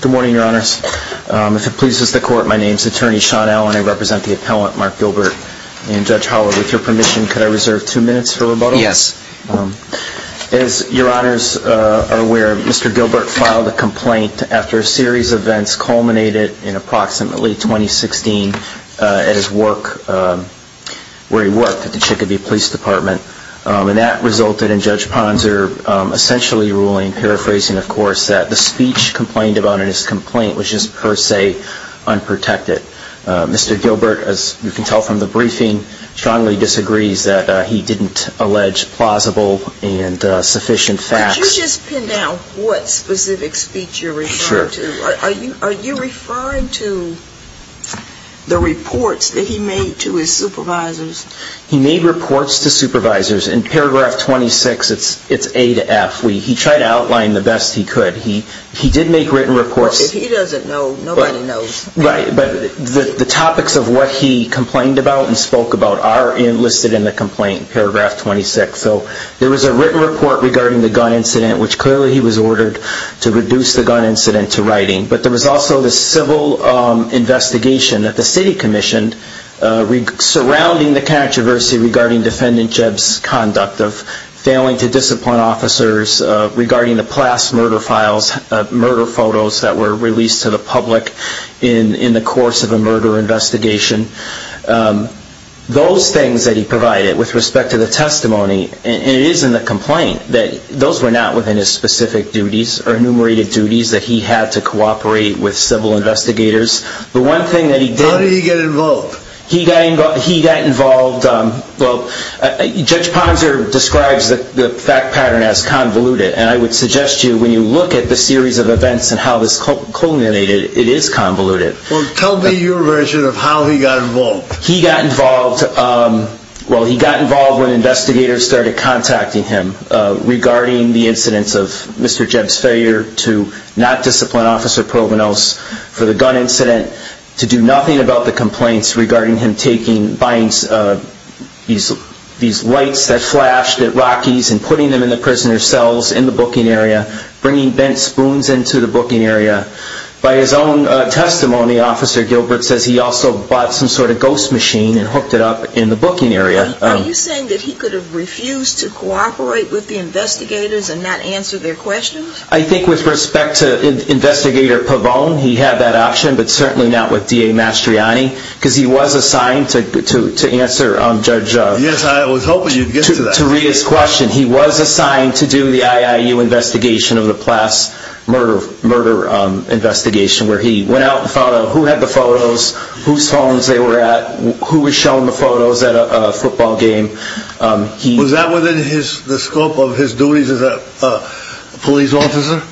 Good morning, your honors. If it pleases the court, my name is attorney Sean Allen. I represent the appellant, Mark Gilbert. And Judge Howard, with your permission, could I reserve two minutes for rebuttal? Yes. As your honors are aware, Mr. Gilbert filed a complaint after a series of events culminated in approximately 2016 at his work, where he worked at the Chicopee Police Department. And that resulted in Judge Ponser essentially ruling, paraphrasing of course, that the speech complained about in his complaint was just per se unprotected. Mr. Gilbert, as you can tell from the briefing, strongly disagrees that he didn't allege plausible and sufficient facts. Could you just pin down what specific speech you're referring to? Are you referring to the reports that he made to his supervisors? He made reports to supervisors. In paragraph 26, it's A to F. He tried to outline the best he could. He did make written reports. Well, if he doesn't know, nobody knows. Right. But the topics of what he complained about and spoke about are listed in the complaint, paragraph 26. So there was a written report regarding the gun incident, which clearly he was ordered to reduce the gun incident to writing. But there was also the civil investigation that the city commissioned surrounding the controversy regarding Defendant Jeb's conduct of failing to discipline officers, regarding the PLAS murder files, murder photos that were released to the public in the course of a murder investigation. Those things that he provided with respect to the testimony and it is in the complaint that those were not within his specific duties or enumerated duties that he had to cooperate with civil investigators. The one thing that he did... How did he get involved? He got involved, well, Judge Ponser describes the fact pattern as convoluted. And I would suggest to you, when you look at the series of events and how this culminated, it is convoluted. Well, tell me your version of how he got involved. He got involved, well, he got involved when investigators started contacting him regarding the incidents of Mr. Jeb's failure to not discipline Officer Provenos for the gun incident, to do nothing about the complaints regarding him taking, buying these lights that flashed at Rockies and putting them in the prisoner's cells in the booking area, bringing bent spoons into the booking area. By his own testimony, Officer Gilbert says he also bought some sort of ghost machine and hooked it up in the booking area. Are you saying that he could have refused to cooperate with the investigators and not answer their questions? I think with respect to Investigator Pavone, he had that option, but certainly not with DA Mastriani, because he was assigned to answer Judge... Yes, I was hoping you'd get to that. To read his question. He was assigned to do the IIU investigation of the Plass murder investigation, where he went out and found out who had the photos, whose phones they were at, who was showing the photos at a football game. Was that within the scope of his duties as a police officer?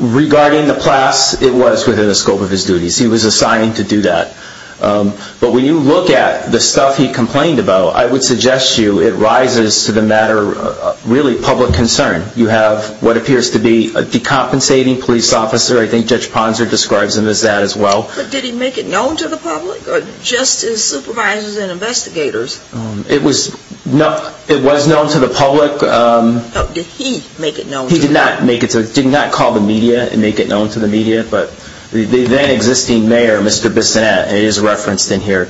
Regarding the Plass, it was within the scope of his duties. He was assigned to do that. But when you look at the stuff he complained about, I would suggest to you it rises to the matter of really public concern. You have what appears to be a decompensating police officer. I think Judge Ponzer describes him as that as well. But did he make it known to the public, or just his supervisors and investigators? It was known to the public. Did he make it known to the public? He did not call the media and make it known to the media, but the then existing mayor, Mr. Bissonnette, and he is referenced in here,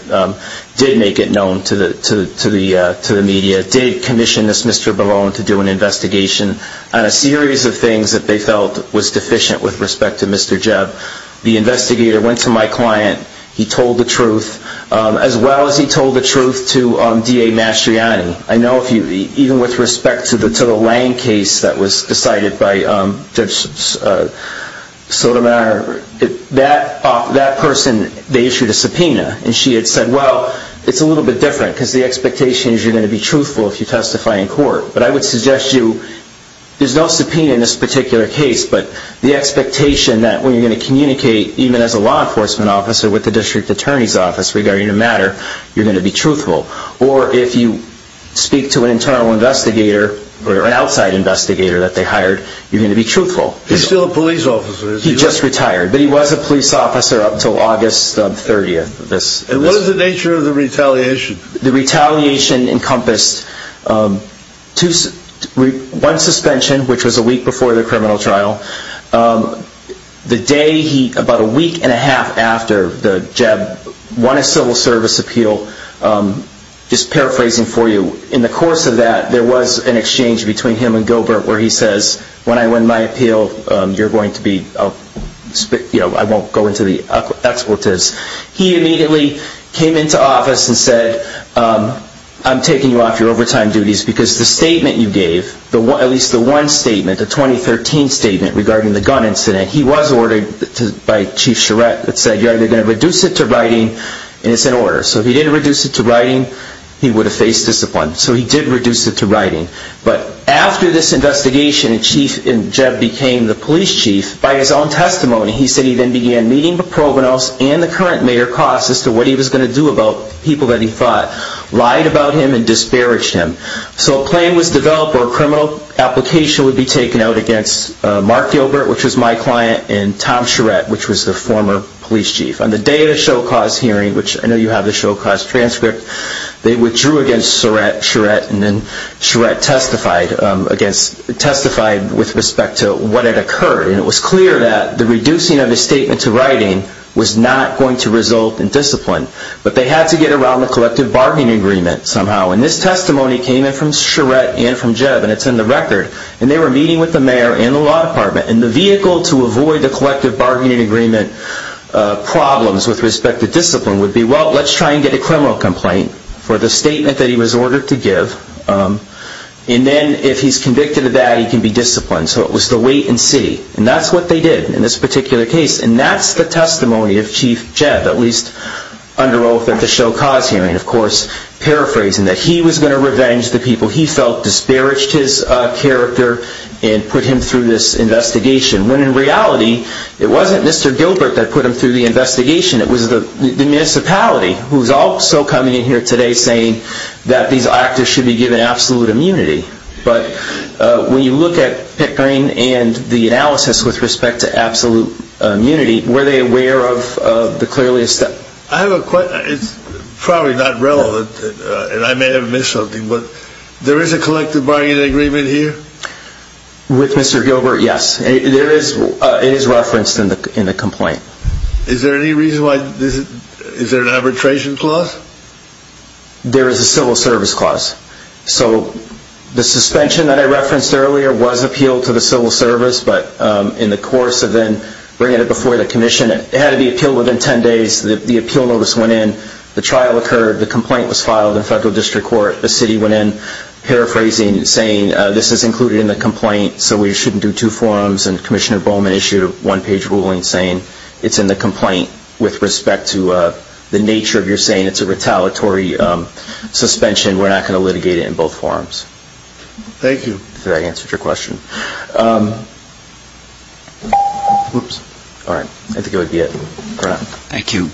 did make it known to the media, did commission this Mr. Bavone to do an investigation on a series of things that they felt was deficient with respect to Mr. Jebb. The investigator went to my client. He told the truth, as well as he told the truth to DA Mastriani. I know even with respect to the Lange case that was decided by Judge Sotomayor, that person, they issued a subpoena, and she had said, well, it's a little bit different because the expectation is you're going to be truthful if you testify in court. But I would suggest to you, there's no subpoena in this particular case, but the expectation that when you're going to communicate, even as a law enforcement officer with the district attorney's office regarding a matter, you're going to be truthful. Or if you speak to an internal investigator, or an outside investigator that they hired, you're going to be truthful. He's still a police officer, is he? He just retired, but he was a police officer up until August 30th. And what is the nature of the retaliation? The retaliation encompassed one suspension, which was a week before the criminal trial. The day he, about a week and a half after Jebb won a civil service appeal, just paraphrasing for you, in the course of that, there was an exchange between him and Gilbert where he says, when I win my appeal, you're going to be, I won't go into the expletives. He immediately came into office and said, I'm taking you off your overtime duties because the statement you gave, at least the one statement, the 2013 statement regarding the gun incident, he was ordered by Chief Charette that said, you're either going to reduce it to writing, and it's an order. So if he didn't reduce it to writing, he would have faced discipline. So he did reduce it to writing. But after this investigation, and Jebb became the police chief, by his own testimony, he had no idea what he was going to do about people that he thought lied about him and disparaged him. So a plan was developed where a criminal application would be taken out against Mark Gilbert, which was my client, and Tom Charette, which was the former police chief. On the day of the show cause hearing, which I know you have the show cause transcript, they withdrew against Charette, and then Charette testified against, testified with respect to what had occurred. And it was clear that the reducing of his statement to writing was not going to result in discipline. But they had to get around the collective bargaining agreement somehow. And this testimony came in from Charette and from Jebb, and it's in the record. And they were meeting with the mayor and the law department. And the vehicle to avoid the collective bargaining agreement problems with respect to discipline would be, well, let's try and get a criminal complaint for the statement that he was ordered to give. And then if he's convicted of that, he can be disciplined. So it was the wait and see. And that's what they did in this particular case. And that's the testimony of Chief Jebb, at least under oath at the show cause hearing, of course, paraphrasing that he was going to revenge the people he felt disparaged his character and put him through this investigation, when in reality it wasn't Mr. Gilbert that put him through the investigation. It was the municipality, who's also coming in here today saying that these actors should be given absolute immunity. But when you look at Pickering and the analysis with respect to absolute immunity, were they aware of the clearly established... I have a question. It's probably not relevant, and I may have missed something, but there is a collective bargaining agreement here? With Mr. Gilbert, yes. It is referenced in the complaint. Is there any reason why... Is there an arbitration clause? There is a civil service clause. So the suspension that I referenced earlier was appealed to the civil service, but in the course of then bringing it before the commission, it had to be appealed within 10 days. The appeal notice went in. The trial occurred. The complaint was filed in federal district court. The city went in paraphrasing and saying, this is included in the complaint, so we shouldn't do two forms. And Commissioner Bowman issued a one-page ruling saying it's in the complaint with respect to the nature of your saying it's a retaliatory suspension. We're not going to litigate it in both forms. Thank you. I hope that answers your question. Whoops. All right. I think that would be it. Thank you.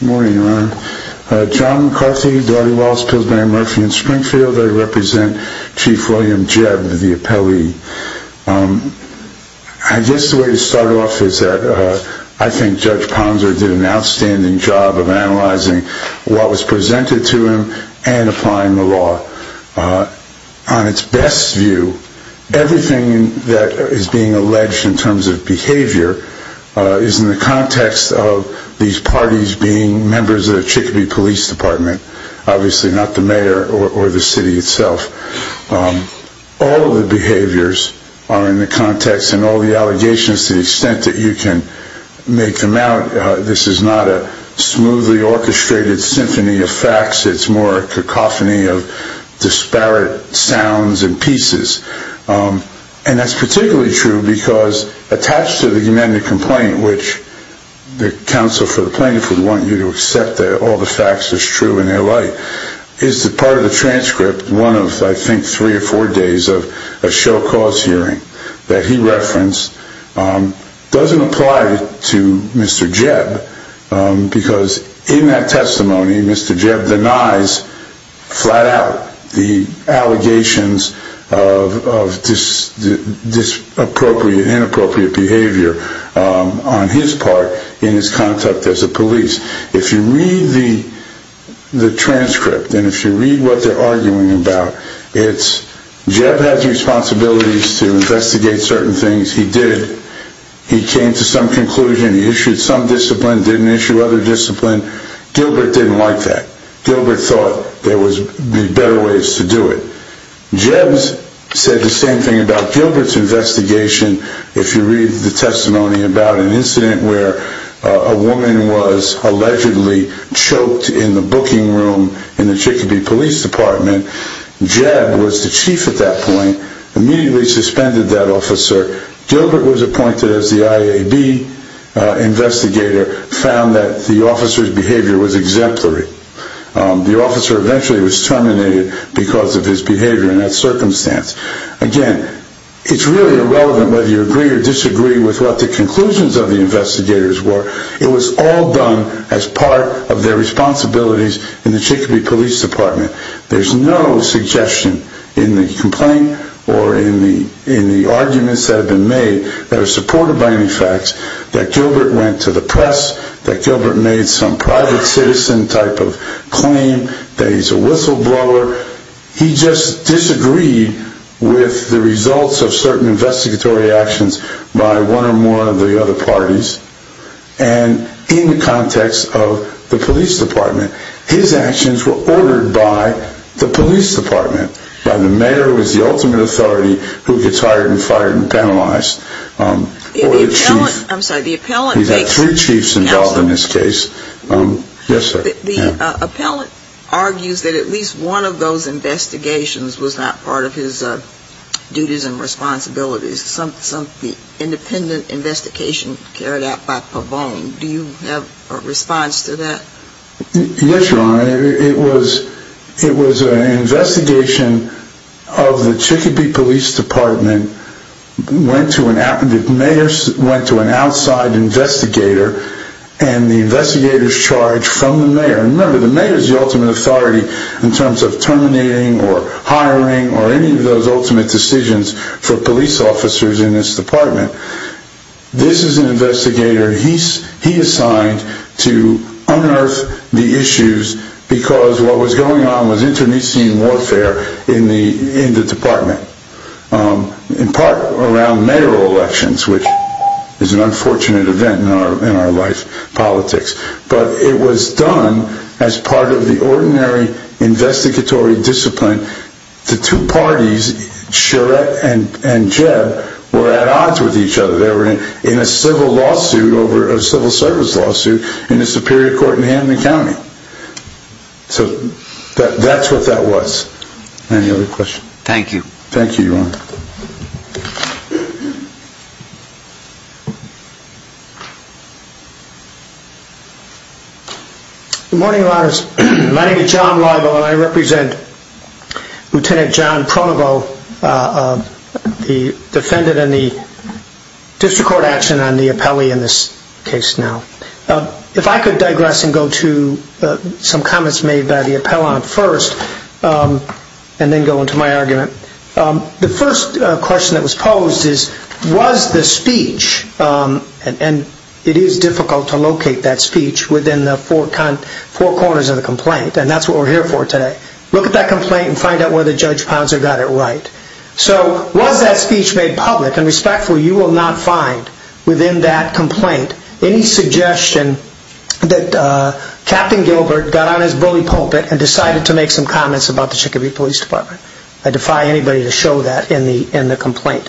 Good morning, Your Honor. John McCarthy, Daugherty Laws, Pillsbury, Murphy & Springfield. I represent Chief William Jeb, the appellee. I guess the way to start off is that I think Judge Ponser did an outstanding job of analyzing what was presented to him and applying the law. On its best view, everything that is being alleged in terms of behavior is in the context of these parties being members of the Chicopee Police Department, obviously not the mayor or the city itself. All of the behaviors are in the context and all the allegations, to the extent that you can make them out, this is not a smoothly orchestrated symphony of problems and pieces. And that's particularly true because attached to the amended complaint, which the counsel for the plaintiff would want you to accept that all the facts are true in their light, is that part of the transcript, one of, I think, three or four days of a show cause hearing that he referenced, doesn't apply to Mr. Jeb because in that testimony Mr. Jeb denies flat out the allegations of inappropriate behavior on his part in his conduct as a police. If you read the transcript and if you read what they're arguing about, it's Jeb has responsibilities to investigate certain things, he did, he came to some conclusion, he issued some discipline, didn't issue other discipline, Gilbert didn't like that, Gilbert thought there would be better ways to do it. Jeb said the same thing about Gilbert's investigation if you read the testimony about an incident where a woman was allegedly choked in the booking room in the Chicopee Police Department, Jeb was the chief at that point, immediately suspended that officer, Gilbert was appointed as the IAB investigator, found that the officer's behavior was exemplary. The officer eventually was terminated because of his behavior in that circumstance. Again, it's really irrelevant whether you agree or disagree with what the conclusions of the investigators were, it was all done as part of their responsibilities in the Chicopee Police Department. There's no suggestion in the complaint or in the arguments that have been made that are supported by any facts that Gilbert went to the press, that Gilbert made some private citizen type of claim, that he's a whistleblower, he just disagreed with the results of certain investigatory actions by one or more of the other parties and in the context of the police department, his actions were ordered by the police department, by the mayor who is the ultimate authority who gets hired and fired and penalized. The appellant argues that at least one of those investigations was not part of his duties and responsibilities, some independent investigation carried out by Pavone. Do you have a response to that? Yes, Your Honor. It was an investigation of the Chicopee Police Department, the mayor went to an outside investigator and the investigators charged from the mayor. Remember, the mayor is the ultimate authority in terms of terminating or hiring or any of those ultimate decisions for police officers in this department. This is an investigator he assigned to unearth the issues because what was going on was internecine warfare in the department. In part around mayoral elections, which is an unfortunate event in our life, politics, but it was done as part of the ordinary investigatory discipline. The two parties, Charette and Jeb, were at odds with each other. They were in a civil lawsuit, a civil service lawsuit in the Superior Court in Hamlin County. So that's what that was. Any other questions? Thank you, Your Honor. Good morning, Your Honors. My name is John Leibo and I represent Lieutenant John Pronovo, the defendant in the district court action on the appellee in this case now. If I could digress and go to some comments made by the appellant first and then go into my argument. The first question that was posed is, was the speech, and it is difficult to locate that speech within the four corners of the complaint, and that's what we're here for today. Look at that complaint and find out whether Judge Ponser got it right. So was that speech made public? And respectfully, you will not find within that complaint any suggestion that Captain Gilbert got on his bully pulpit and decided to make some comments about the Chicopee Police Department. I defy anybody to show that in the complaint.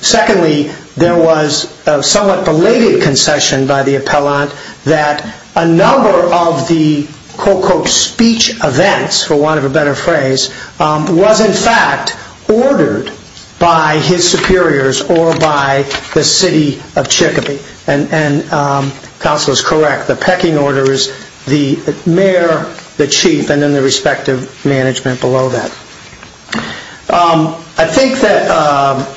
Secondly, there was a somewhat belated concession by the appellant that a number of the quote quote speech events, for want of a better phrase, was in fact ordered by his superiors or by the city of Chicopee. And counsel is correct, the pecking orders, the mayor, the chief executive, and the chief executive management below that. I think that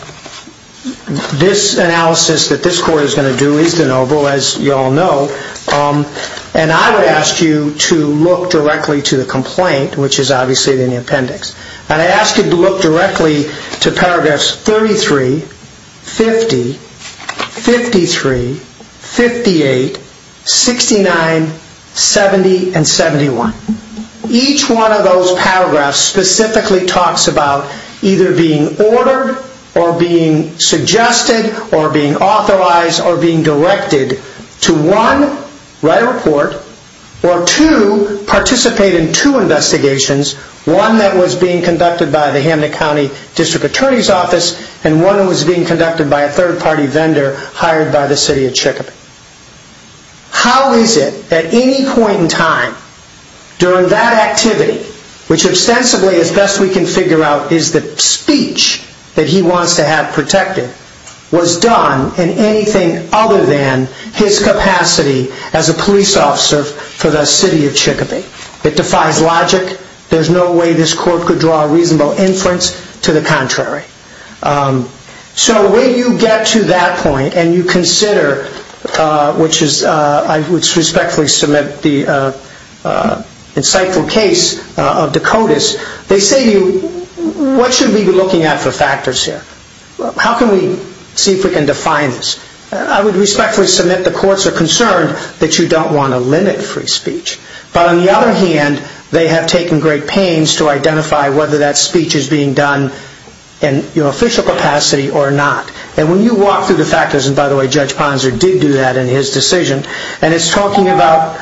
this analysis that this court is going to do is de novo, as you all know, and I would ask you to look directly to the complaint, which is obviously in the appendix. And I ask you to look directly to paragraphs 33, 50, 53, 58, 69, 70, and 71. Each one of those has a paragraph that's specifically talks about either being ordered, or being suggested, or being authorized, or being directed to one, write a report, or two, participate in two investigations, one that was being conducted by the Hamlet County District Attorney's Office, and one that was being conducted by a third-party vendor hired by the City of Chickapoo. How is it that at any point in time, during that activity, which ostensibly, as best we can figure out, is the speech that he wants to have protected, was done in anything other than his capacity as a police officer for the City of Chickapoo? It defies logic. There's no way this court could draw a reasonable inference to the contrary. So when you get to that point, and you consider, which is, I would respectfully submit, the insightful case of Dakotis, they say to you, what should we be looking at for factors here? How can we see if we can define this? I would respectfully submit the courts are concerned that you don't want to limit free speech. But on the other hand, they have taken great pains to identify whether that speech is being done in official capacity or not. And when you walk through the factors, and by the way Judge Ponser did do that in his decision, and it's talking about,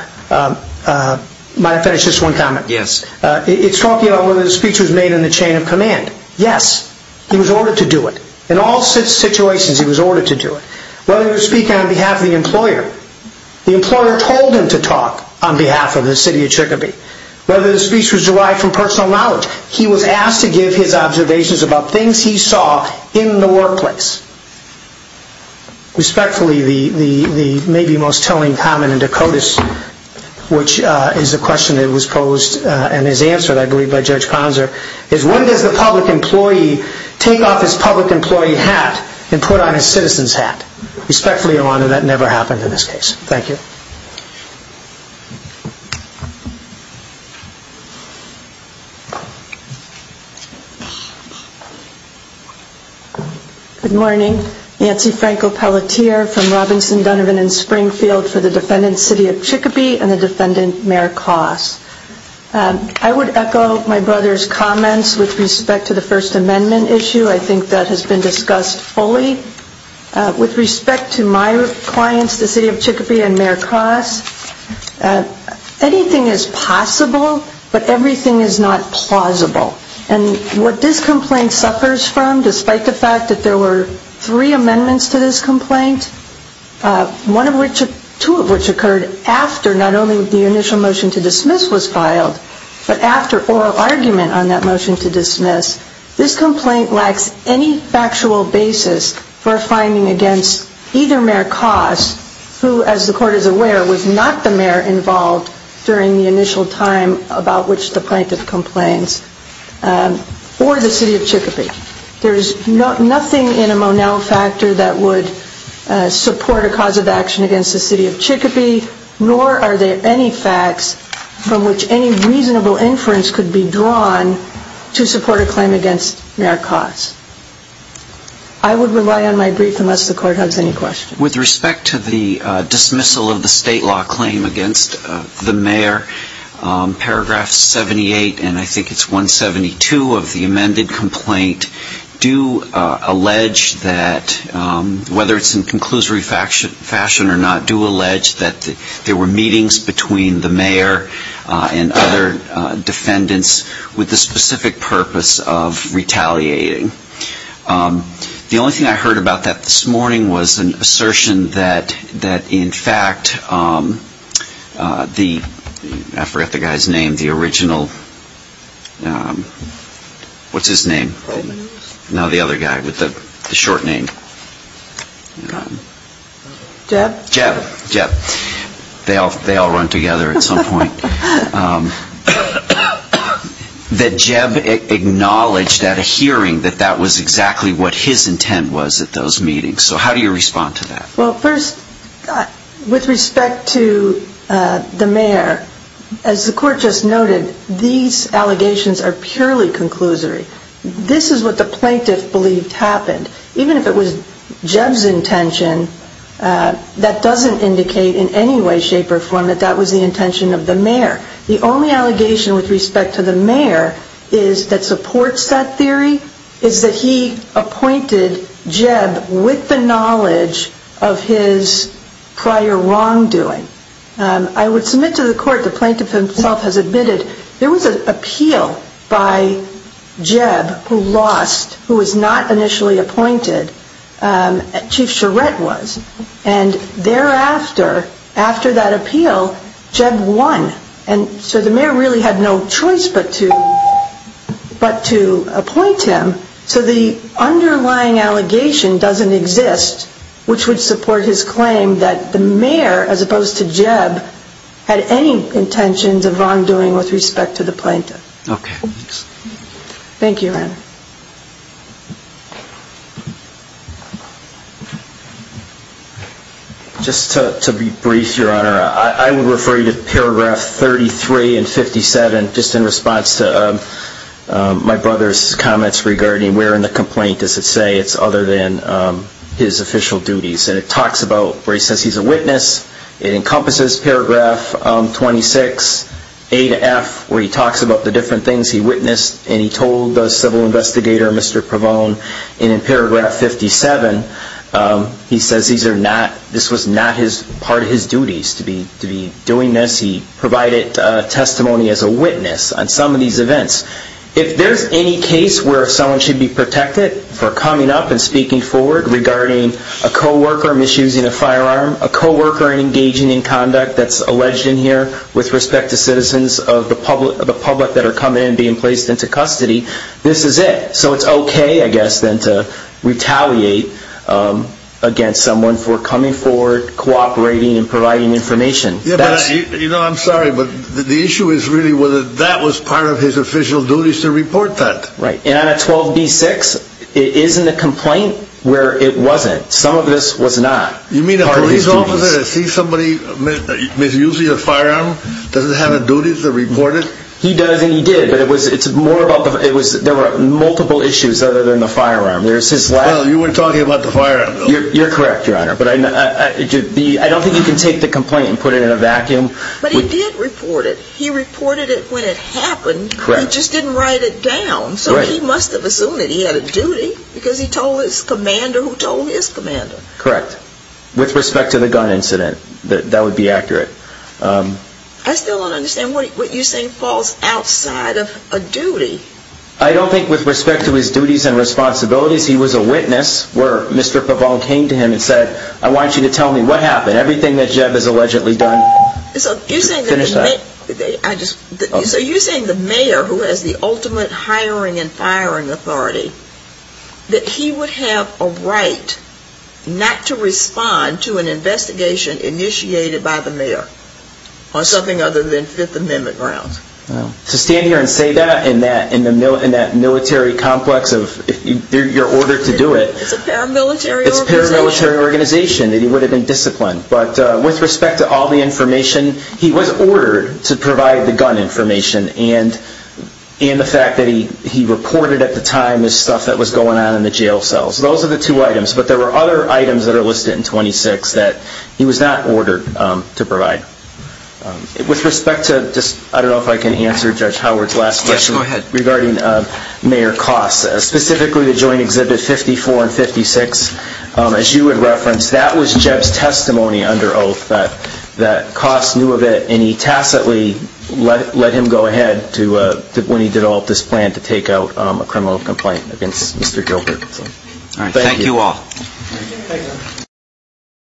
might I finish this one comment? Yes. It's talking about whether the speech was made in the chain of command. Yes, he was ordered to do it. In all situations, he was ordered to do it. Whether he was speaking on behalf of the employer. The employer told him to talk on behalf of the City of Chickapoo. Whether the speech was derived from personal knowledge. He was asked to give his observations about things he saw in the workplace. Respectfully, the maybe most telling comment in Dakotis, which is a question that was posed and is answered, I believe, by Judge Ponser, is when does the public employee take off his public employee hat and put on his citizen's hat? Respectfully, Your Honor, that never happened in this case. Thank you. Good morning. Nancy Franco-Pelletier from Robinson, Dunnivan and Springfield for the defendant's City of Chickapoo and the defendant, Mayor Koss. I would echo my brother's comments with respect to the First Amendment issue. I think that has been discussed fully. With respect to my clients, the City of Chickapoo and Mayor Koss, anything is possible, but everything is not plausible. And what this complaint suffers from, despite the fact that there were three amendments to this complaint, two of which occurred after not only the initial motion to dismiss was filed, but after oral argument on that motion to dismiss, this complaint lacks any factual basis for a finding against either Mayor Koss, who, as the Court is aware, was not the mayor involved during the initial time about which the plaintiff complains, or the City of Chickapoo. There is nothing in a Monell factor that would support a cause of action against the City of Chickapoo, nor are there any facts from which any reasonable inference could be drawn to support a claim against Mayor Koss. I would rely on my brief unless the Court has any questions. With respect to the dismissal of the state law claim against the mayor, paragraph 78, and I think it's 172 of the amended complaint, do allege that, whether it's in conclusory fashion or not, do allege that there were meetings between the mayor and other defendants with the specific purpose of retaliating. The only thing I heard about that this morning was an assertion that, in fact, the, I forgot the guy's name, the original, what's his name? No, the other guy with the short name. Jeb? Jeb. They all run together at some point. That Jeb acknowledged at a hearing that that was exactly what his intent was at those meetings. So how do you respond to that? Well, first, with respect to the mayor, as the Court just noted, these allegations are purely conclusory. This is what the plaintiff believed happened. Even if it was Jeb's intention, that doesn't indicate in any way, shape, or form that that was the intention of the mayor. The only allegation with respect to the mayor is, that supports that theory, is that he appointed Jeb with the knowledge of his prior wrongdoing. I would submit to the Court, the plaintiff himself has admitted, there was an appeal by Jeb who lost, who was not initially appointed, Chief Charette was. And thereafter, after that appeal, Jeb won. And so the mayor really had no choice but to appoint him. So the underlying allegation doesn't exist, which would support his claim that the mayor, as opposed to Jeb, had any intentions of wrongdoing with respect to the plaintiff. Thank you, Your Honor. Just to be brief, Your Honor, I would refer you to paragraph 33 and 57, just in response to my brother's comments regarding where in the complaint does it say it's other than his official duties. And it talks about, where he says he's a witness, it encompasses paragraph 26A to F, where he talks about the different things he witnessed, and he told the civil investigator, Mr. Provone, and in paragraph 57, he says this was not part of his duties to be doing this. He provided testimony as a witness on some of these events. If there's any case where someone should be protected for coming up and speaking forward regarding a co-worker misusing a firearm, a co-worker engaging in conduct that's alleged in here with respect to citizens of the public that are coming in and being placed into custody, this is it. So it's okay, I guess, then, to retaliate against someone for coming forward, cooperating, and providing information. Yeah, but I'm sorry, but the issue is really whether that was part of his official duties to report that. Right. And on a 12B6, it is in the complaint where it wasn't. Some of this was not part of his duties. You mean a police officer that sees somebody misusing a firearm doesn't have a duty to report it? He does and he did, but it was, it's more about the, it was, there were multiple issues other than the firearm. There's his lack... Well, you were talking about the firearm, though. You're correct, Your Honor, but I don't think you can take the complaint and put it in a vacuum. But he did report it. He reported it when it happened. Correct. But he just didn't write it down, so he must have assumed that he had a duty because he told his commander who told his commander. Correct. With respect to the gun incident, that would be accurate. I still don't understand what you're saying falls outside of a duty. I don't think with respect to his duties and responsibilities, he was a witness where Mr. Pavone came to him and said, I want you to tell me what happened. Everything that Jeb has allegedly done... So you're saying the mayor, who has the ultimate hiring and firing authority, that he would have a right not to respond to an investigation initiated by the mayor on something other than Fifth Amendment grounds? To stand here and say that in that military complex of, you're ordered to do it... It's a paramilitary organization. It's a paramilitary organization. He would have been disciplined. But with respect to all the information, he was ordered to provide the gun information and the fact that he reported at the time the stuff that was going on in the jail cells. Those are the two items. But there were other items that are listed in 26 that he was not ordered to provide. With respect to, I don't know if I can answer Judge Howard's last question regarding Mayor Koss, specifically the joint exhibit 54 and 56, as you would reference, that was Jeb's testimony under oath, that Koss knew of it and he tacitly let him go ahead when he did all of this plan to take out a criminal complaint against Mr. Gilbert. Thank you all.